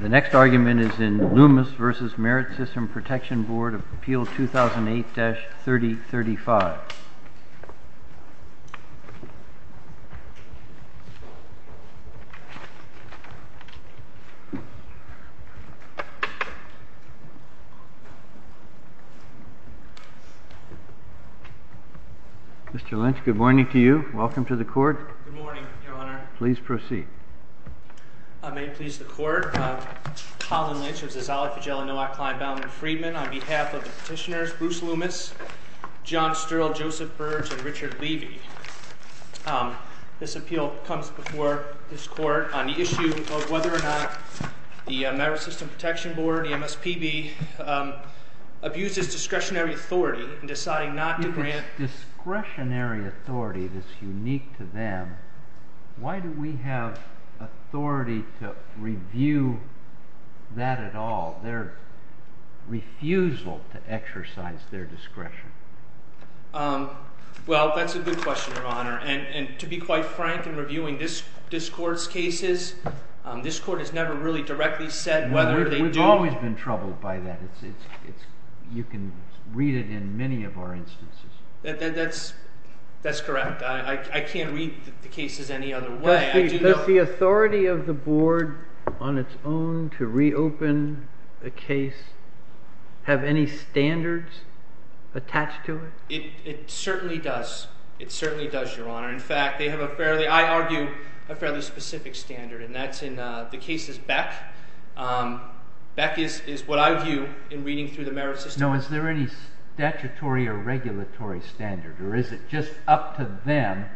The next argument is in Loomis v. Merit System Protection Board, Appeal 2008-3035. Mr. Lynch, good morning to you. Welcome to the court. Good morning, Your Honor. Please proceed. I may please the court. Colin Lynch, who is a zolophagella noocline bound in Friedman, on behalf of the petitioners Bruce Loomis, John Stirl, Joseph Burge, and Richard Levy. This appeal comes before this court on the issue of whether or not the Merit System Protection Board, the MSPB, abuses discretionary authority in deciding not to grant discretionary authority that's unique to them, why do we have authority to review that at all, their refusal to exercise their discretion? Well, that's a good question, Your Honor. And to be quite frank in reviewing this court's cases, this court has never really directly said whether they do. I've always been troubled by that. You can read it in many of our instances. That's correct. I can't read the cases any other way. Does the authority of the board on its own to reopen the case have any standards attached to it? It certainly does. It certainly does, Your Honor. In fact, they have a fairly, I argue, a fairly specific standard, and that's in the cases Beck. Beck is what I view in reading through the merit system. Now, is there any statutory or regulatory standard, or is it just up to them?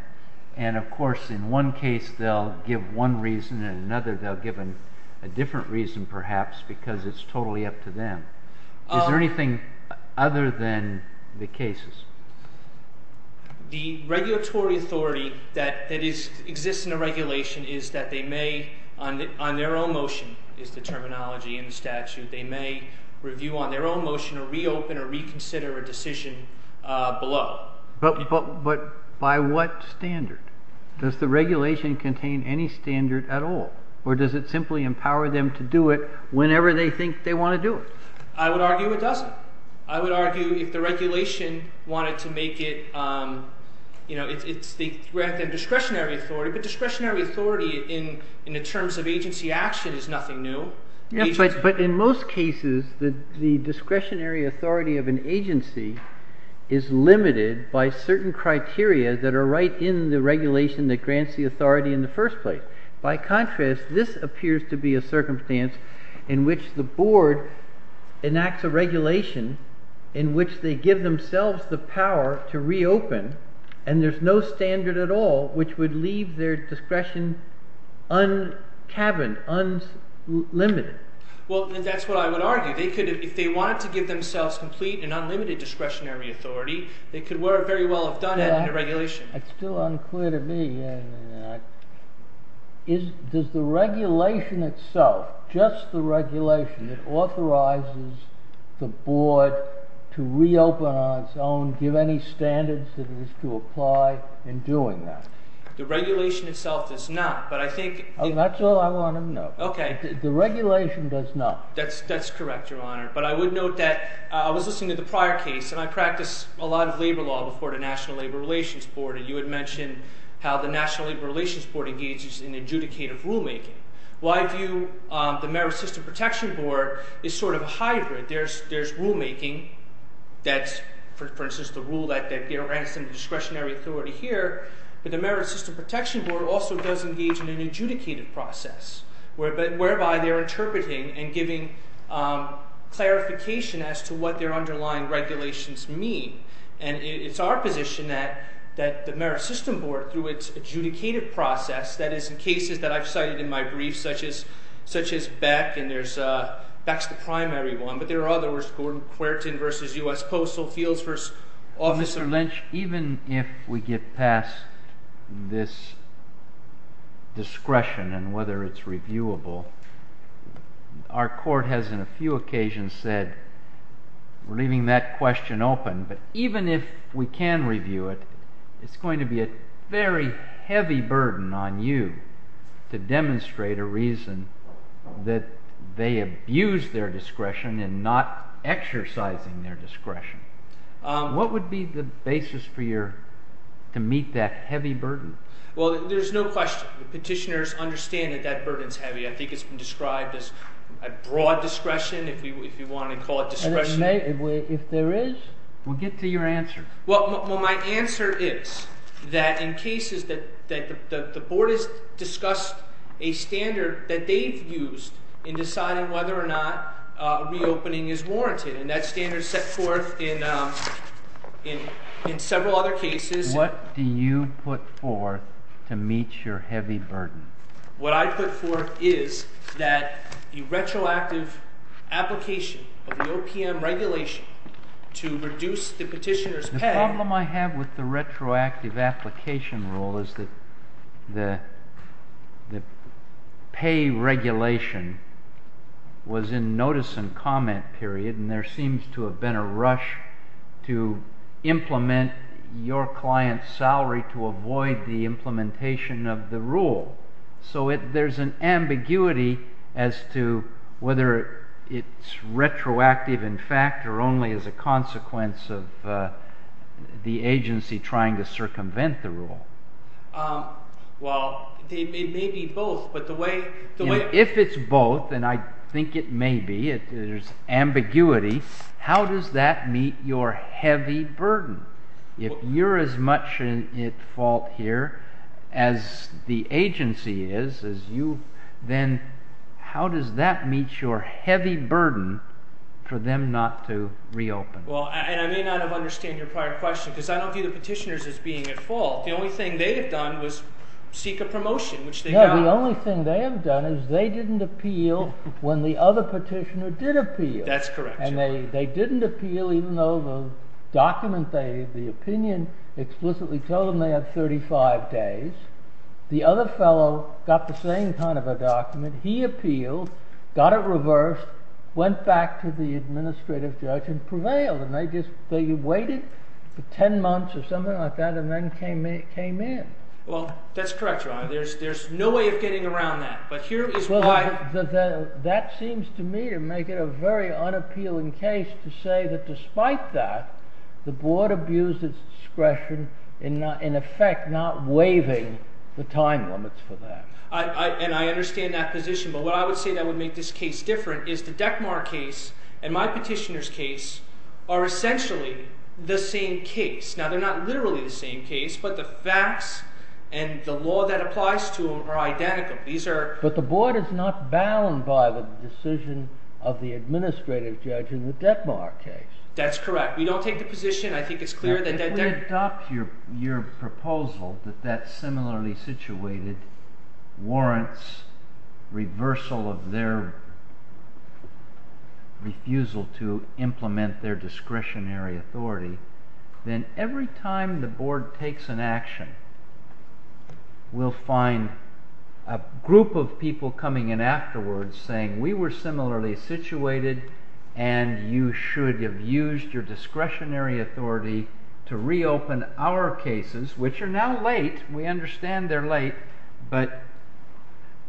And of course, in one case they'll give one reason, and in another they'll give a different reason perhaps because it's totally up to them. Is there anything other than the cases? The regulatory authority that exists in a regulation is that they may on their own motion, is the terminology in the statute, they may review on their own motion or reopen or reconsider a decision below. But by what standard? Does the regulation contain any standard at all, or does it simply empower them to do it whenever they think they want to do it? I would argue it doesn't. I would argue if the regulation wanted to make it, you know, it's the discretionary authority, but discretionary authority in the terms of agency action is nothing new. But in most cases, the discretionary authority of an agency is limited by certain criteria that are right in the regulation that grants the authority in the first place. By contrast, this appears to be a circumstance in which the board enacts a regulation in which they give themselves the power to reopen, and there's no standard at all which would leave their discretion uncaverned, unlimited. Well, that's what I would argue. If they wanted to give themselves complete and unlimited discretionary authority, they could very well have done it in a regulation. It's still unclear to me. Does the regulation itself, just the regulation that authorizes the board to reopen on its own give any standards that it is to apply in doing that? The regulation itself does not. That's all I want to know. Okay. The regulation does not. That's correct, Your Honor. But I would note that I was listening to the prior case, and I practiced a lot of labor law before the National Labor Relations Board, and you had mentioned how the National Labor Relations Board engages in adjudicative rulemaking. Well, I view the Merit System Protection Board as sort of a hybrid. There's rulemaking. That's, for instance, the rule that grants them discretionary authority here. But the Merit System Protection Board also does engage in an adjudicated process, whereby they're interpreting and giving clarification as to what their underlying regulations mean. And it's our position that the Merit System Board, through its adjudicated process, that is, in cases that I've cited in my brief, such as Beck, and there's – Beck's the primary one. But there are others, Gordon Querton v. U.S. Postal Fields v. Officer Lynch. Even if we get past this discretion and whether it's reviewable, our court has in a few occasions said, we're leaving that question open. But even if we can review it, it's going to be a very heavy burden on you to demonstrate a reason that they abuse their discretion in not exercising their discretion. What would be the basis for your – to meet that heavy burden? Well, there's no question. Petitioners understand that that burden is heavy. I think it's been described as broad discretion, if you want to call it discretion. If there is, we'll get to your answer. Well, my answer is that in cases that – the board has discussed a standard that they've used in deciding whether or not reopening is warranted. And that standard is set forth in several other cases. What do you put forth to meet your heavy burden? What I put forth is that a retroactive application of the OPM regulation to reduce the petitioner's pay – and there seems to have been a rush to implement your client's salary to avoid the implementation of the rule. So there's an ambiguity as to whether it's retroactive in fact or only as a consequence of the agency trying to circumvent the rule. Well, it may be both, but the way – If it's both, and I think it may be, there's ambiguity, how does that meet your heavy burden? If you're as much at fault here as the agency is, then how does that meet your heavy burden for them not to reopen? Well, and I may not have understood your prior question because I don't view the petitioners as being at fault. The only thing they have done was seek a promotion, which they got. The only thing they have done is they didn't appeal when the other petitioner did appeal. That's correct. And they didn't appeal even though the document, the opinion explicitly told them they had 35 days. The other fellow got the same kind of a document. He appealed, got it reversed, went back to the administrative judge and prevailed. And they waited for 10 months or something like that and then came in. Well, that's correct, Your Honor. There's no way of getting around that. But here is why – Well, that seems to me to make it a very unappealing case to say that despite that, the board abused its discretion in effect not waiving the time limits for that. And I understand that position. But what I would say that would make this case different is the DECMAR case and my petitioner's case are essentially the same case. Now, they're not literally the same case, but the facts and the law that applies to them are identical. These are – But the board is not bound by the decision of the administrative judge in the DECMAR case. That's correct. We don't take the position. I think it's clear that DECMAR – Every time the board takes an action, we'll find a group of people coming in afterwards saying we were similarly situated and you should have used your discretionary authority to reopen our cases, which are now late. We understand they're late. But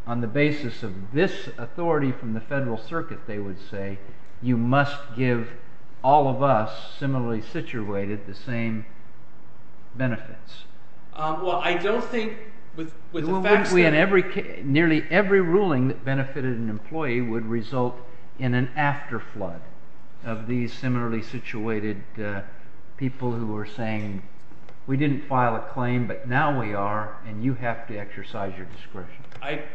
on the basis of this authority from the federal circuit, they would say you must give all of us similarly situated the same benefits. Well, I don't think – Nearly every ruling that benefited an employee would result in an afterflood of these similarly situated people who are saying we didn't file a claim, but now we are, and you have to exercise your discretion.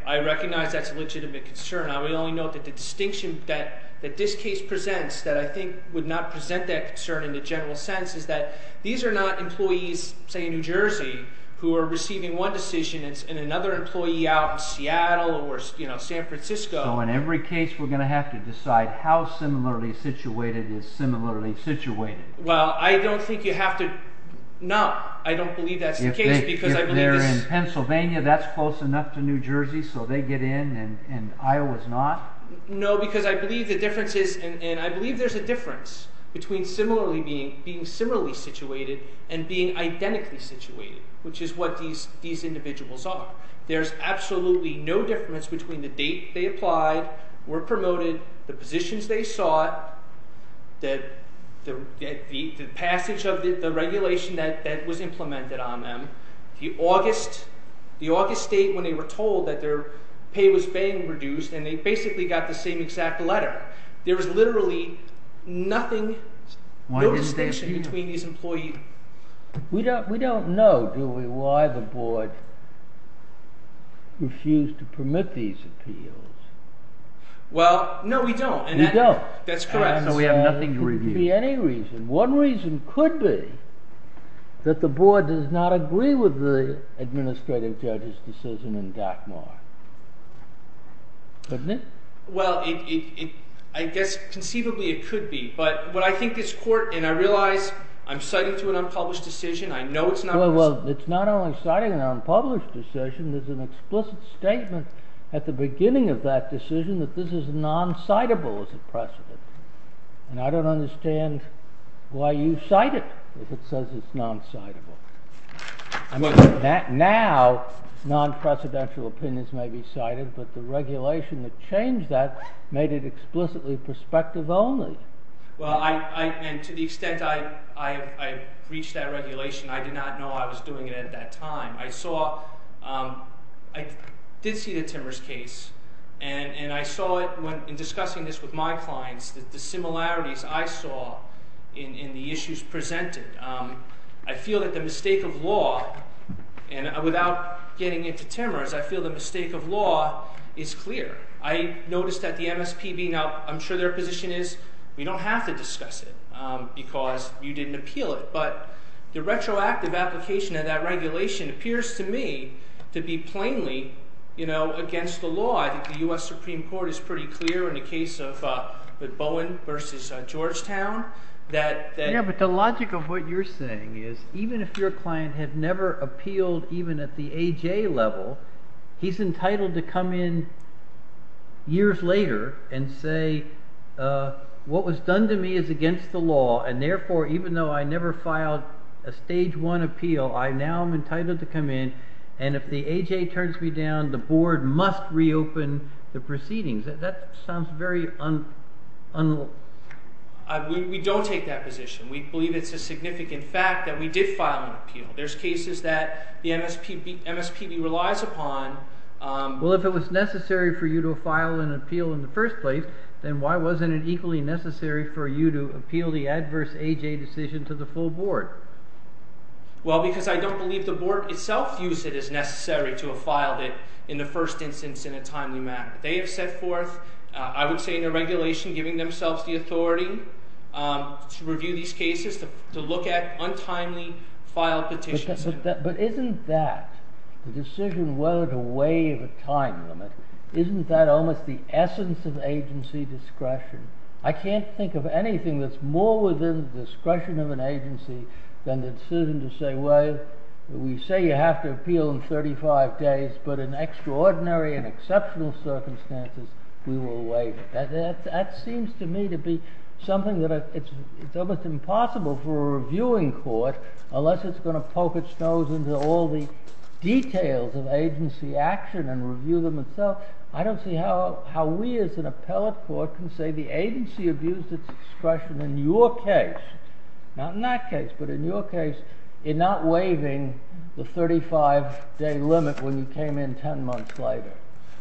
I recognize that's a legitimate concern. We only know that the distinction that this case presents that I think would not present that concern in the general sense is that these are not employees, say, in New Jersey, who are receiving one decision and another employee out in Seattle or San Francisco. So in every case, we're going to have to decide how similarly situated is similarly situated. Well, I don't think you have to – no. I don't believe that's the case because I believe it's – No, because I believe the difference is – and I believe there's a difference between being similarly situated and being identically situated, which is what these individuals are. There's absolutely no difference between the date they applied, were promoted, the positions they sought, the passage of the regulation that was implemented on them, the August date when they were told that their pay was being reduced and they basically got the same exact letter. There is literally nothing – Why is there no distinction between these employees? We don't know, do we, why the board refused to permit these appeals. Well, no, we don't. We don't. That's correct. So we have nothing to review. One reason could be that the board does not agree with the administrative judge's decision in Dakmar. Couldn't it? Well, I guess conceivably it could be. But what I think this court – and I realize I'm citing to an unpublished decision. I know it's not – Well, it's not only citing an unpublished decision. There's an explicit statement at the beginning of that decision that this is non-citable as a precedent. And I don't understand why you cite it if it says it's non-citable. Now, non-precedential opinions may be cited, but the regulation that changed that made it explicitly prospective only. Well, I – and to the extent I reached that regulation, I did not know I was doing it at that time. I saw – I did see the Timmers case, and I saw it in discussing this with my clients, the similarities I saw in the issues presented. I feel that the mistake of law – and without getting into Timmers, I feel the mistake of law is clear. I noticed that the MSPB – now, I'm sure their position is we don't have to discuss it because you didn't appeal it. But the retroactive application of that regulation appears to me to be plainly against the law. I think the US Supreme Court is pretty clear in the case of – with Bowen versus Georgetown that – Yeah, but the logic of what you're saying is even if your client had never appealed even at the AJ level, he's entitled to come in years later and say what was done to me is against the law. And therefore, even though I never filed a stage one appeal, I now am entitled to come in. And if the AJ turns me down, the board must reopen the proceedings. That sounds very – We don't take that position. We believe it's a significant fact that we did file an appeal. There's cases that the MSPB relies upon. Well, if it was necessary for you to file an appeal in the first place, then why wasn't it equally necessary for you to appeal the adverse AJ decision to the full board? Well, because I don't believe the board itself views it as necessary to have filed it in the first instance in a timely manner. They have set forth, I would say, in a regulation giving themselves the authority to review these cases, to look at untimely filed petitions. But isn't that, the decision whether to waive a time limit, isn't that almost the essence of agency discretion? I can't think of anything that's more within the discretion of an agency than the decision to say, well, we say you have to appeal in 35 days, but in extraordinary and exceptional circumstances, we will waive it. That seems to me to be something that it's almost impossible for a reviewing court, unless it's going to poke its nose into all the details of agency action and review them itself. I don't see how we as an appellate court can say the agency abused its discretion in your case, not in that case, but in your case, in not waiving the 35-day limit when you came in 10 months later.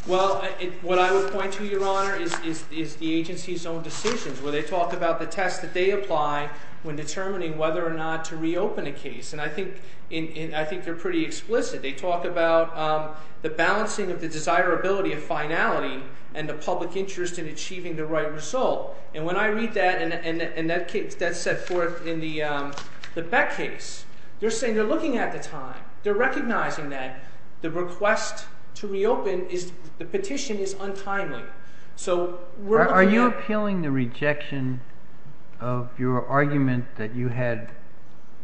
Well, what I would point to, Your Honor, is the agency's own decisions, where they talk about the test that they apply when determining whether or not to reopen a case. And I think they're pretty explicit. They talk about the balancing of the desirability of finality and the public interest in achieving the right result. And when I read that, and that's set forth in the Beck case, they're saying they're looking at the time. They're recognizing that the request to reopen is – the petition is untimely. So we're looking at – Are you appealing the rejection of your argument that you had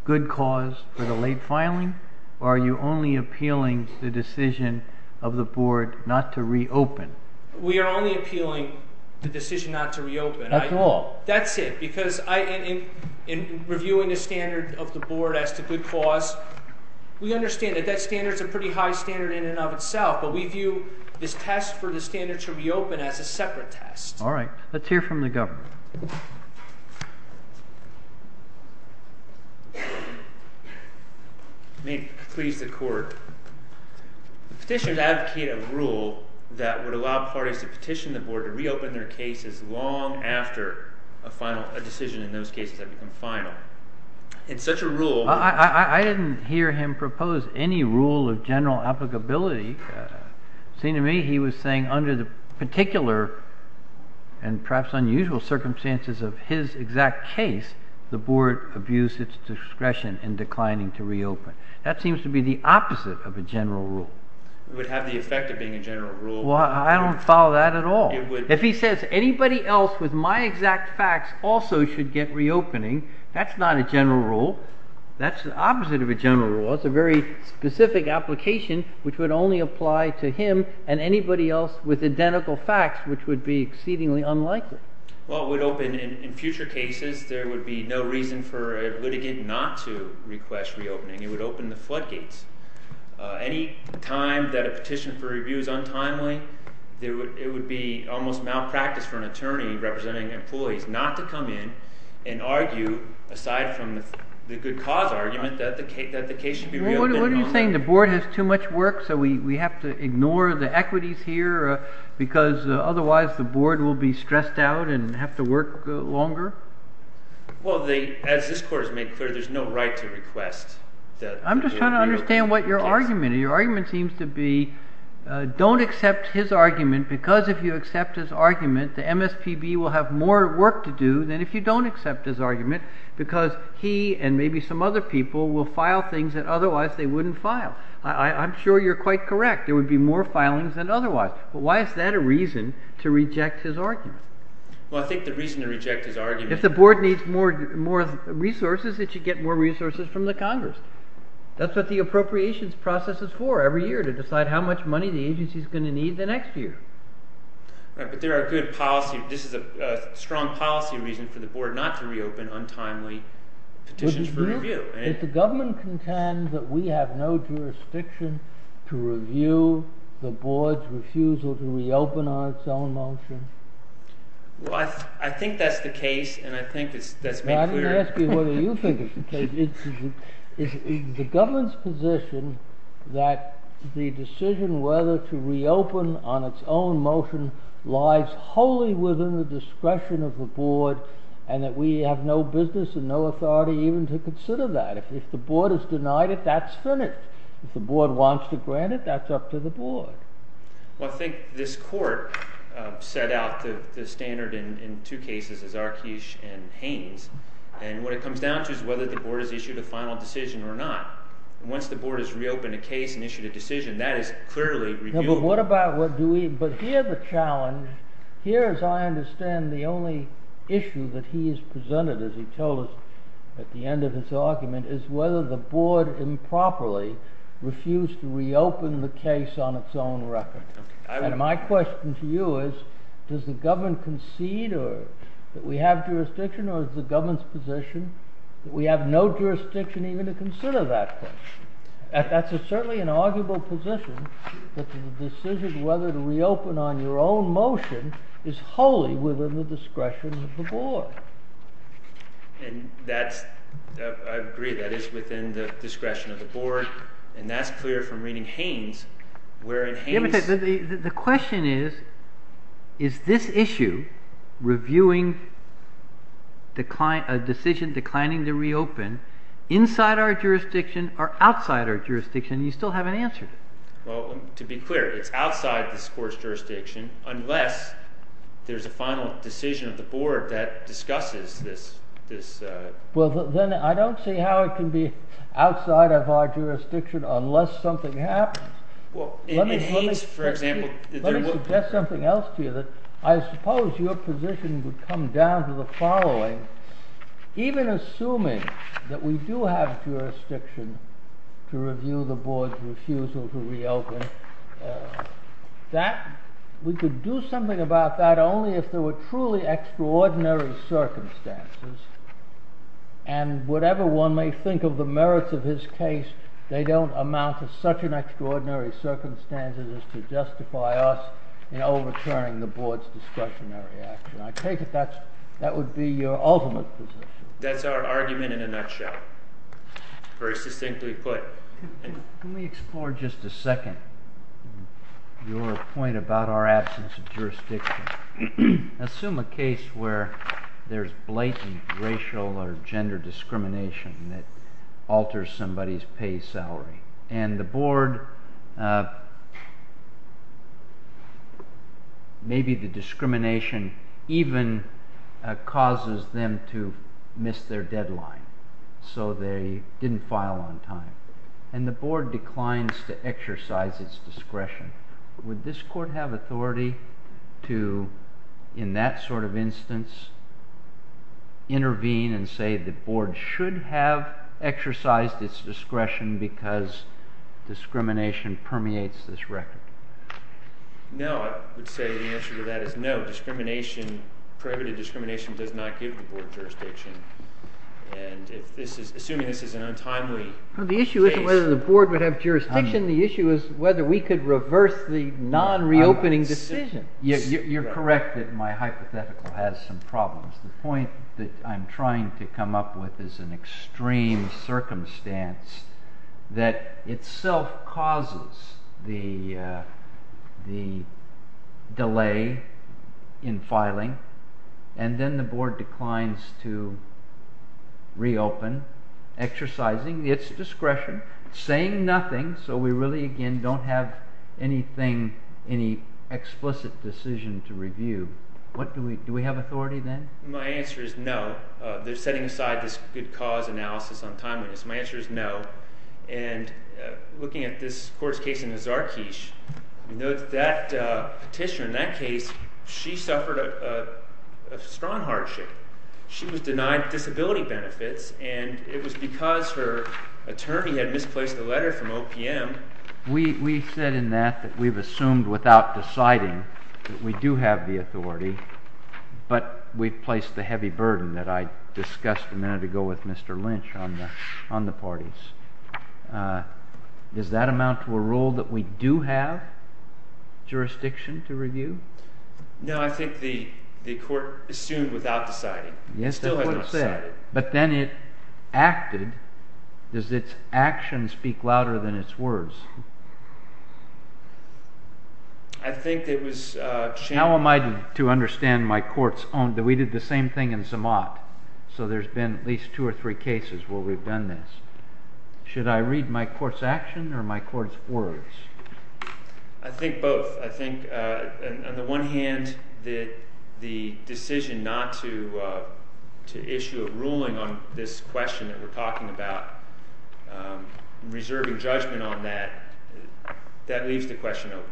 good cause for the late filing, or are you only appealing the decision of the board not to reopen? We are only appealing the decision not to reopen. That's all? That's it. Because in reviewing the standard of the board as to good cause, we understand that that standard is a pretty high standard in and of itself. But we view this test for the standard to reopen as a separate test. May it please the Court. Petitioners advocate a rule that would allow parties to petition the board to reopen their cases long after a final – a decision in those cases had become final. In such a rule – of general applicability, it seemed to me he was saying under the particular and perhaps unusual circumstances of his exact case, the board abused its discretion in declining to reopen. That seems to be the opposite of a general rule. It would have the effect of being a general rule. Well, I don't follow that at all. If he says anybody else with my exact facts also should get reopening, that's not a general rule. That's the opposite of a general rule. That's a very specific application which would only apply to him and anybody else with identical facts, which would be exceedingly unlikely. Well, it would open – in future cases, there would be no reason for a litigant not to request reopening. It would open the floodgates. Any time that a petition for review is untimely, it would be almost malpractice for an attorney representing employees not to come in and argue, aside from the good cause argument, that the case should be reopened. What are you saying? The board has too much work, so we have to ignore the equities here because otherwise the board will be stressed out and have to work longer? Well, as this Court has made clear, there's no right to request that – I'm just trying to understand what your argument is. Your argument seems to be don't accept his argument because if you accept his argument, the MSPB will have more work to do than if you don't accept his argument because he and maybe some other people will file things that otherwise they wouldn't file. I'm sure you're quite correct. There would be more filings than otherwise. But why is that a reason to reject his argument? Well, I think the reason to reject his argument – If the board needs more resources, it should get more resources from the Congress. That's what the appropriations process is for, every year, to decide how much money the agency is going to need the next year. Right, but there are good policy – this is a strong policy reason for the board not to reopen untimely petitions for review. Is the government content that we have no jurisdiction to review the board's refusal to reopen on its own motion? Well, I think that's the case, and I think that's made clear. I'm going to ask you whether you think it's the case. Is the government's position that the decision whether to reopen on its own motion lies wholly within the discretion of the board and that we have no business and no authority even to consider that? If the board has denied it, that's finished. If the board wants to grant it, that's up to the board. Well, I think this court set out the standard in two cases, Azarkesh and Haynes, and what it comes down to is whether the board has issued a final decision or not. Once the board has reopened a case and issued a decision, that is clearly – But here the challenge – here, as I understand, the only issue that he has presented, as he told us at the end of his argument, is whether the board improperly refused to reopen the case on its own record. And my question to you is, does the government concede that we have jurisdiction or is the government's position that we have no jurisdiction even to consider that question? That's certainly an arguable position that the decision whether to reopen on your own motion is wholly within the discretion of the board. And that's – I agree that it's within the discretion of the board, and that's clear from reading Haynes, wherein Haynes – The question is, is this issue, reviewing a decision declining to reopen, inside our jurisdiction or outside our jurisdiction, and you still haven't answered it. Well, to be clear, it's outside this court's jurisdiction unless there's a final decision of the board that discusses this. Well, then I don't see how it can be outside of our jurisdiction unless something happens. Well, if Haynes, for example – Let me suggest something else to you. I suppose your position would come down to the following. Even assuming that we do have jurisdiction to review the board's refusal to reopen, we could do something about that only if there were truly extraordinary circumstances. And whatever one may think of the merits of his case, they don't amount to such an extraordinary circumstances as to justify us in overturning the board's discretionary action. I take it that would be your ultimate position. That's our argument in a nutshell, very succinctly put. Let me explore just a second your point about our absence of jurisdiction. Assume a case where there's blatant racial or gender discrimination that alters somebody's pay salary. And the board – maybe the discrimination even causes them to miss their deadline, so they didn't file on time. And the board declines to exercise its discretion. Would this court have authority to, in that sort of instance, intervene and say the board should have exercised its discretion because discrimination permeates this record? No. I would say the answer to that is no. Prohibited discrimination does not give the board jurisdiction. And assuming this is an untimely case – The issue isn't whether the board would have jurisdiction. The issue is whether we could reverse the non-reopening decision. You're correct that my hypothetical has some problems. The point that I'm trying to come up with is an extreme circumstance that itself causes the delay in filing. And then the board declines to reopen, exercising its discretion, saying nothing. So we really again don't have anything, any explicit decision to review. Do we have authority then? My answer is no. They're setting aside this good cause analysis on timeliness. My answer is no. And looking at this court's case in Zarkeesh, that petitioner in that case, she suffered a strong hardship. She was denied disability benefits, and it was because her attorney had misplaced the letter from OPM. We said in that that we've assumed without deciding that we do have the authority, but we've placed the heavy burden that I discussed a minute ago with Mr. Lynch on the parties. Does that amount to a rule that we do have jurisdiction to review? No. I think the court assumed without deciding. It still hasn't decided. But then it acted. Does its action speak louder than its words? How am I to understand my court's own? We did the same thing in Zamat. So there's been at least two or three cases where we've done this. Should I read my court's action or my court's words? I think both. I think on the one hand, the decision not to issue a ruling on this question that we're talking about, reserving judgment on that, that leaves the question open.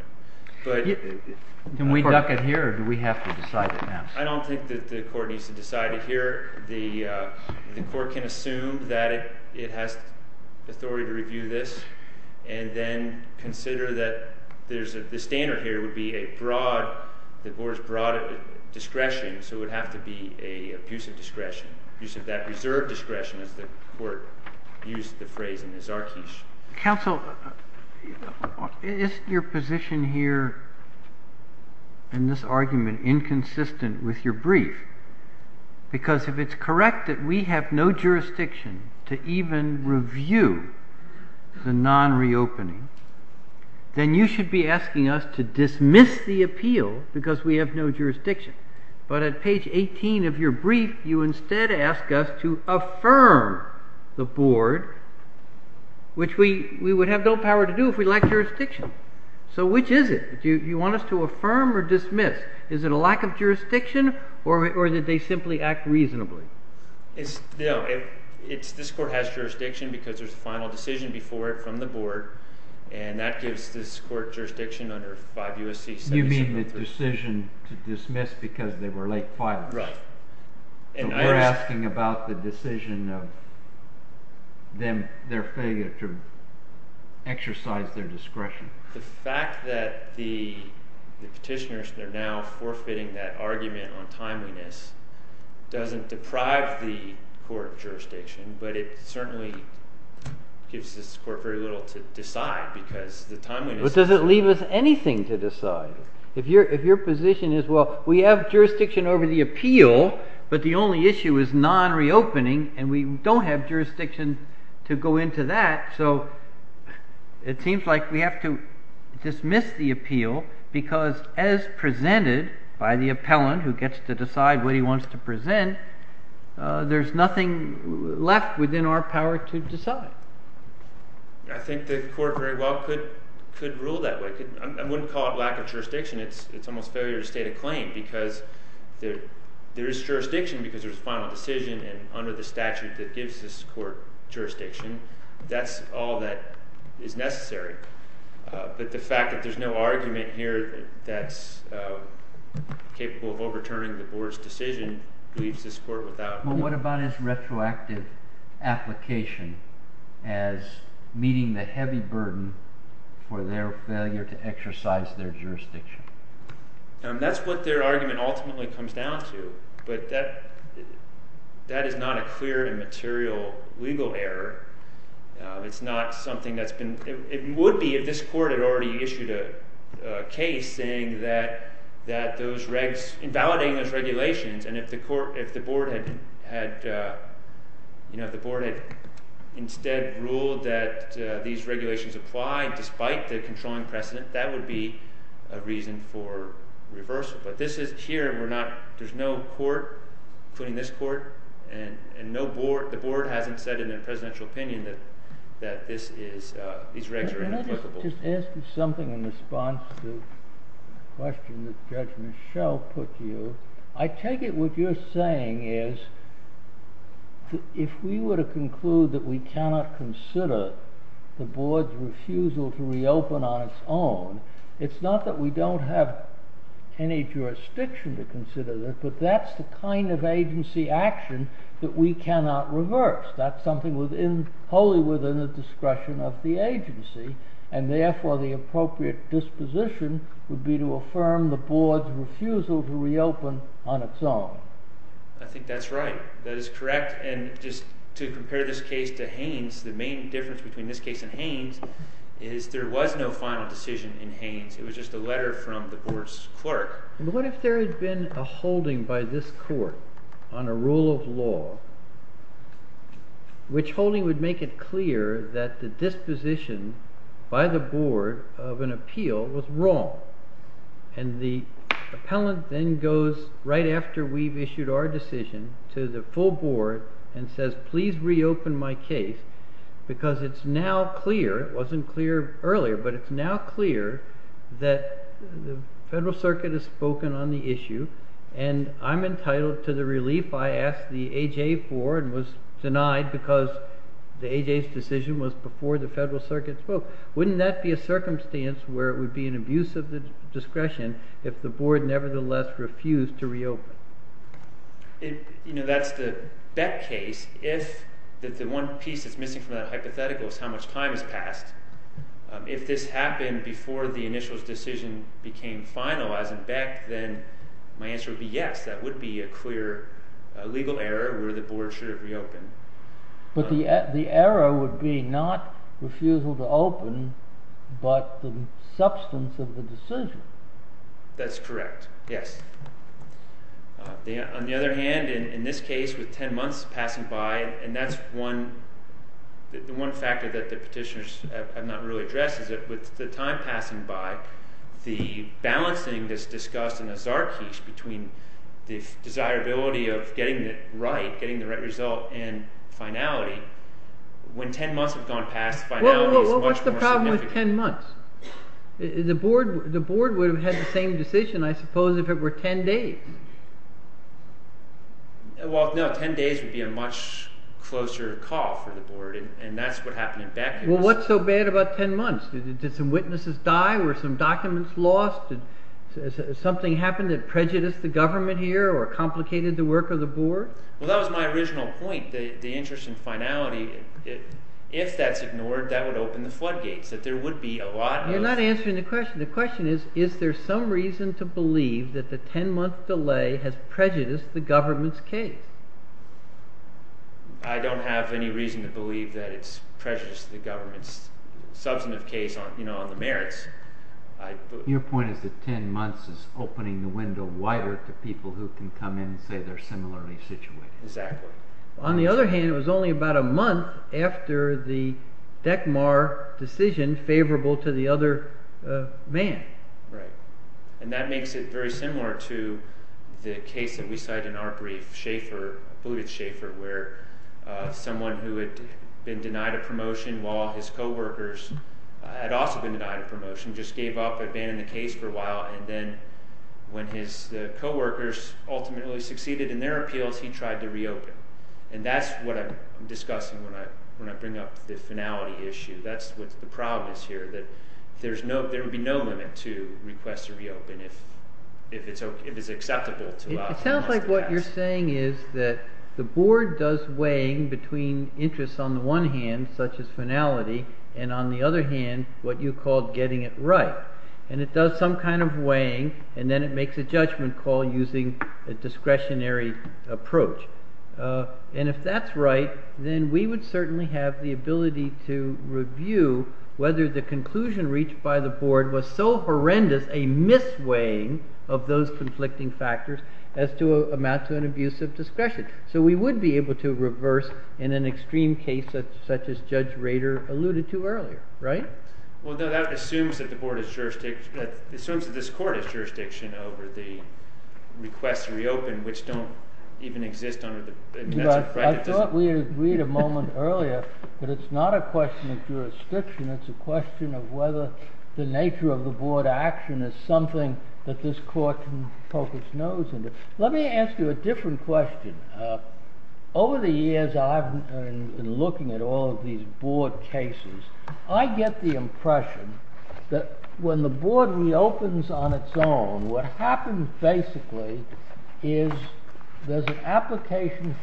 Can we duck it here, or do we have to decide it now? I don't think that the court needs to decide it here. The court can assume that it has authority to review this, and then consider that the standard here would be a broad, the board's broad discretion, so it would have to be an abusive discretion. Abusive, that reserved discretion, as the court used the phrase in the Zarkeesh. Counsel, is your position here in this argument inconsistent with your brief? Because if it's correct that we have no jurisdiction to even review the non-reopening, then you should be asking us to dismiss the appeal because we have no jurisdiction. But at page 18 of your brief, you instead ask us to affirm the board, which we would have no power to do if we lacked jurisdiction. So which is it? Do you want us to affirm or dismiss? Is it a lack of jurisdiction, or did they simply act reasonably? No, this court has jurisdiction because there's a final decision before it from the board, and that gives this court jurisdiction under 5 U.S.C. 773. You mean the decision to dismiss because they were late filing. Right. So we're asking about the decision of their failure to exercise their discretion. The fact that the petitioners are now forfeiting that argument on timeliness doesn't deprive the court of jurisdiction, but it certainly gives this court very little to decide because the timeliness... But does it leave us anything to decide? If your position is, well, we have jurisdiction over the appeal, but the only issue is non-reopening, and we don't have jurisdiction to go into that, so it seems like we have to dismiss the appeal because, as presented by the appellant who gets to decide what he wants to present, there's nothing left within our power to decide. I think the court very well could rule that way. I wouldn't call it lack of jurisdiction. It's almost failure to state a claim because there is jurisdiction because there's a final decision under the statute that gives this court jurisdiction. That's all that is necessary. But the fact that there's no argument here that's capable of overturning the board's decision leaves this court without... Well, what about his retroactive application as meeting the heavy burden for their failure to exercise their jurisdiction? That's what their argument ultimately comes down to, but that is not a clear and material legal error. It's not something that's been... It would be if this court had already issued a case saying that those regs... invalidating those regulations, and if the board had instead ruled that these regulations apply despite the controlling precedent, that would be a reason for reversal. But this is here and there's no court, including this court, and the board hasn't said in their presidential opinion that these regs are inapplicable. Can I just ask you something in response to the question that Judge Michel put to you? I take it what you're saying is if we were to conclude that we cannot consider the board's refusal to reopen on its own, it's not that we don't have any jurisdiction to consider it, but that's the kind of agency action that we cannot reverse. That's something wholly within the discretion of the agency, and therefore the appropriate disposition would be to affirm the board's refusal to reopen on its own. I think that's right. That is correct. And just to compare this case to Haynes, the main difference between this case and Haynes is there was no final decision in Haynes. It was just a letter from the board's clerk. But what if there had been a holding by this court on a rule of law, which holding would make it clear that the disposition by the board of an appeal was wrong, and the appellant then goes right after we've issued our decision to the full board and says, please reopen my case, because it's now clear, it wasn't clear earlier, but it's now clear that the Federal Circuit has spoken on the issue, and I'm entitled to the relief I asked the AJ for and was denied because the AJ's decision was before the Federal Circuit spoke. Wouldn't that be a circumstance where it would be an abuse of the discretion if the board nevertheless refused to reopen? You know, that's the Beck case. If the one piece that's missing from that hypothetical is how much time has passed, if this happened before the initial decision became final as in Beck, then my answer would be yes, that would be a clear legal error where the board should have reopened. But the error would be not refusal to open, but the substance of the decision. That's correct, yes. On the other hand, in this case, with 10 months passing by, and that's one factor that the petitioners have not really addressed, is that with the time passing by, the balancing that's discussed in the Czarkice between the desirability of getting it right, getting the right result, and finality, when 10 months have gone past, finality is much more significant. Well, what's the problem with 10 months? The board would have had the same decision, I suppose, if it were 10 days. Well, no, 10 days would be a much closer call for the board, and that's what happened in Beck. Well, what's so bad about 10 months? Did some witnesses die? Were some documents lost? Did something happen that prejudiced the government here or complicated the work of the board? Well, that was my original point, the interest in finality. If that's ignored, that would open the floodgates, that there would be a lot of— You're not answering the question. The question is, is there some reason to believe that the 10-month delay has prejudiced the government's case? I don't have any reason to believe that it's prejudiced the government's substantive case on the merits. Your point is that 10 months is opening the window wider to people who can come in and say they're similarly situated. Exactly. On the other hand, it was only about a month after the Deckmar decision favorable to the other man. Right. And that makes it very similar to the case that we cite in our brief, Shaffer, Buttigieg-Shaffer, where someone who had been denied a promotion while his co-workers had also been denied a promotion, just gave up, abandoned the case for a while, and then when his co-workers ultimately succeeded in their appeals, he tried to reopen. And that's what I'm discussing when I bring up the finality issue. That's what the problem is here, that there would be no limit to requests to reopen if it's acceptable to allow— It sounds like what you're saying is that the board does weighing between interests on the one hand, such as finality, and on the other hand, what you called getting it right. And it does some kind of weighing, and then it makes a judgment call using a discretionary approach. And if that's right, then we would certainly have the ability to review whether the conclusion reached by the board was so horrendous, a mis-weighing of those conflicting factors, as to amount to an abuse of discretion. So we would be able to reverse in an extreme case such as Judge Rader alluded to earlier, right? Well, that assumes that the board is—assumes that this court is jurisdiction over the requests to reopen, which don't even exist under the— I thought we had agreed a moment earlier that it's not a question of jurisdiction, it's a question of whether the nature of the board action is something that this court can poke its nose into. Let me ask you a different question. Over the years I've been looking at all of these board cases, I get the impression that when the board reopens on its own, what happens basically is there's an application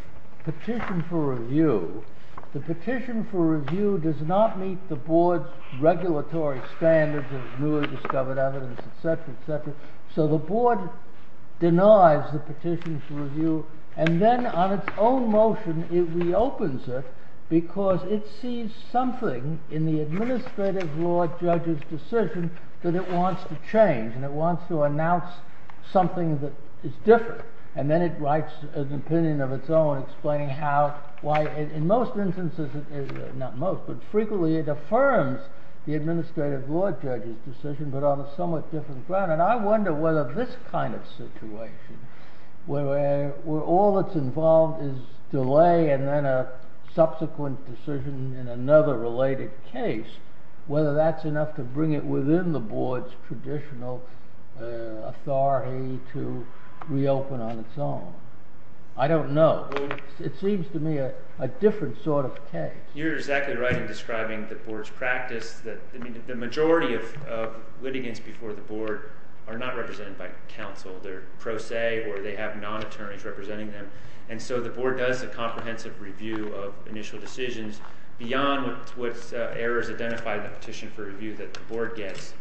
petition for review. The petition for review does not meet the board's regulatory standards of newly discovered evidence, etc., etc. So the board denies the petition for review, and then on its own motion it reopens it, because it sees something in the administrative law judge's decision that it wants to change, and it wants to announce something that is different. And then it writes an opinion of its own explaining how, why, in most instances—not most, but frequently— it affirms the administrative law judge's decision, but on a somewhat different ground. And I wonder whether this kind of situation, where all that's involved is delay and then a subsequent decision in another related case, whether that's enough to bring it within the board's traditional authority to reopen on its own. I don't know. It seems to me a different sort of case. You're exactly right in describing the board's practice. The majority of litigants before the board are not represented by counsel. They're pro se, or they have non-attorneys representing them. And so the board does a comprehensive review of initial decisions beyond what errors identify the petition for review that the board gets.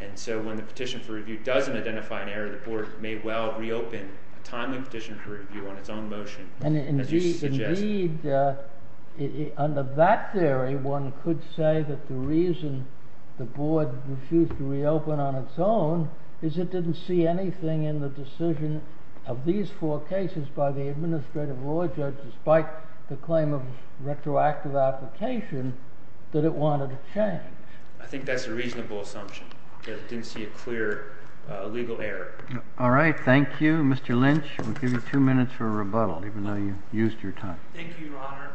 And so when the petition for review doesn't identify an error, the board may well reopen a timely petition for review on its own motion. And indeed, under that theory, one could say that the reason the board refused to reopen on its own is it didn't see anything in the decision of these four cases by the administrative law judge, despite the claim of retroactive application, that it wanted to change. I think that's a reasonable assumption, that it didn't see a clear legal error. All right. Thank you, Mr. Lynch. We'll give you two minutes for a rebuttal, even though you used your time. Thank you, Your Honor.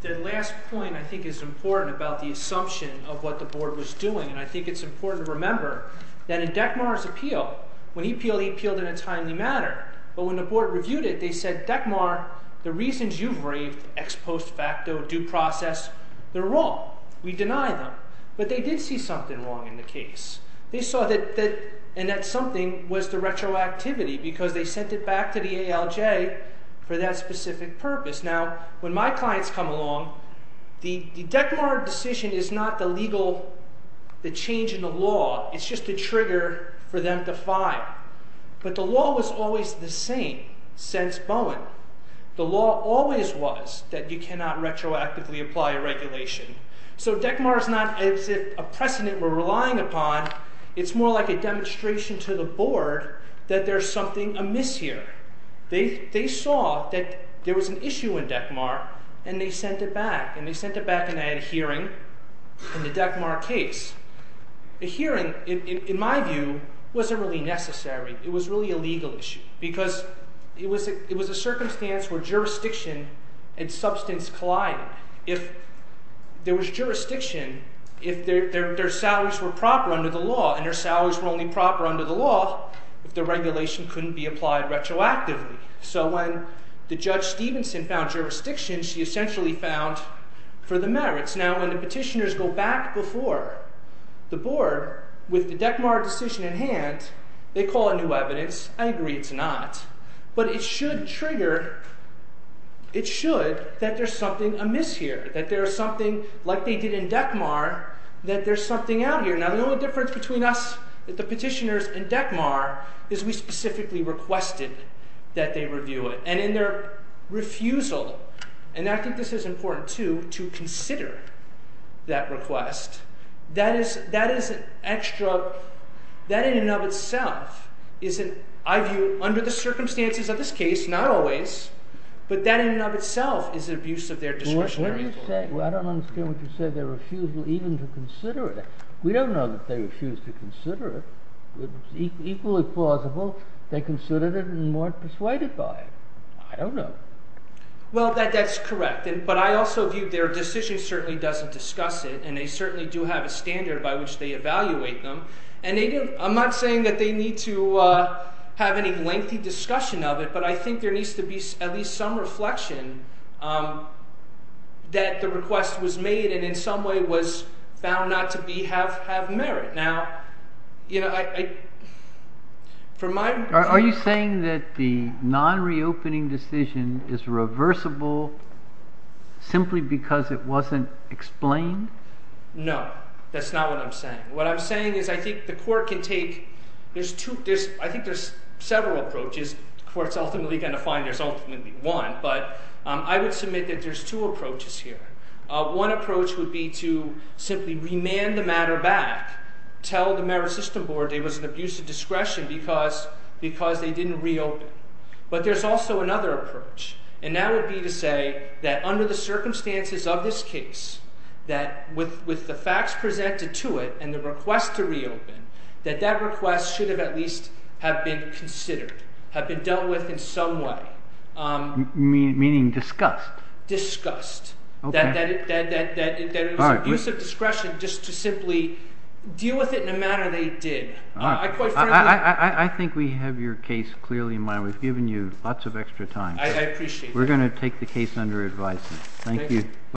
The last point, I think, is important about the assumption of what the board was doing. And I think it's important to remember that in Dekmar's appeal, when he appealed, he appealed in a timely manner. But when the board reviewed it, they said, Dekmar, the reasons you've raved ex post facto due process, they're wrong. We deny them. But they did see something wrong in the case. They saw that something was the retroactivity because they sent it back to the ALJ for that specific purpose. Now, when my clients come along, the Dekmar decision is not the legal change in the law. It's just a trigger for them to file. But the law was always the same since Bowen. The law always was that you cannot retroactively apply a regulation. So Dekmar is not as if a precedent we're relying upon. It's more like a demonstration to the board that there's something amiss here. They saw that there was an issue in Dekmar, and they sent it back. And they sent it back, and they had a hearing in the Dekmar case. The hearing, in my view, wasn't really necessary. It was really a legal issue because it was a circumstance where jurisdiction and substance collided. If there was jurisdiction, if their salaries were proper under the law, and their salaries were only proper under the law, if the regulation couldn't be applied retroactively. So when the Judge Stevenson found jurisdiction, she essentially found for the merits. Now, when the petitioners go back before the board with the Dekmar decision in hand, they call a new evidence. I agree it's not. But it should trigger, it should, that there's something amiss here. That there's something, like they did in Dekmar, that there's something out here. Now, the only difference between us, the petitioners, and Dekmar is we specifically requested that they review it. And in their refusal, and I think this is important too, to consider that request. That is an extra, that in and of itself is an, I view, under the circumstances of this case, not always, but that in and of itself is an abuse of their discretionary authority. What are you saying? I don't understand what you're saying. They refused even to consider it. We don't know that they refused to consider it. It's equally plausible they considered it and weren't persuaded by it. I don't know. Well, that's correct. But I also view their decision certainly doesn't discuss it, and they certainly do have a standard by which they evaluate them. And I'm not saying that they need to have any lengthy discussion of it, but I think there needs to be at least some reflection that the request was made and in some way was found not to have merit. Now, are you saying that the non-reopening decision is reversible simply because it wasn't explained? No, that's not what I'm saying. What I'm saying is I think the court can take – I think there's several approaches. The court's ultimately going to find there's ultimately one, but I would submit that there's two approaches here. One approach would be to simply remand the matter back, tell the merit system board it was an abuse of discretion because they didn't reopen. But there's also another approach, and that would be to say that under the circumstances of this case, that with the facts presented to it and the request to reopen, that that request should have at least have been considered, have been dealt with in some way. Meaning discussed? Discussed. That it was abuse of discretion just to simply deal with it in a manner they did. I think we have your case clearly in mind. We've given you lots of extra time. I appreciate that. We're going to take the case under advice. Thank you.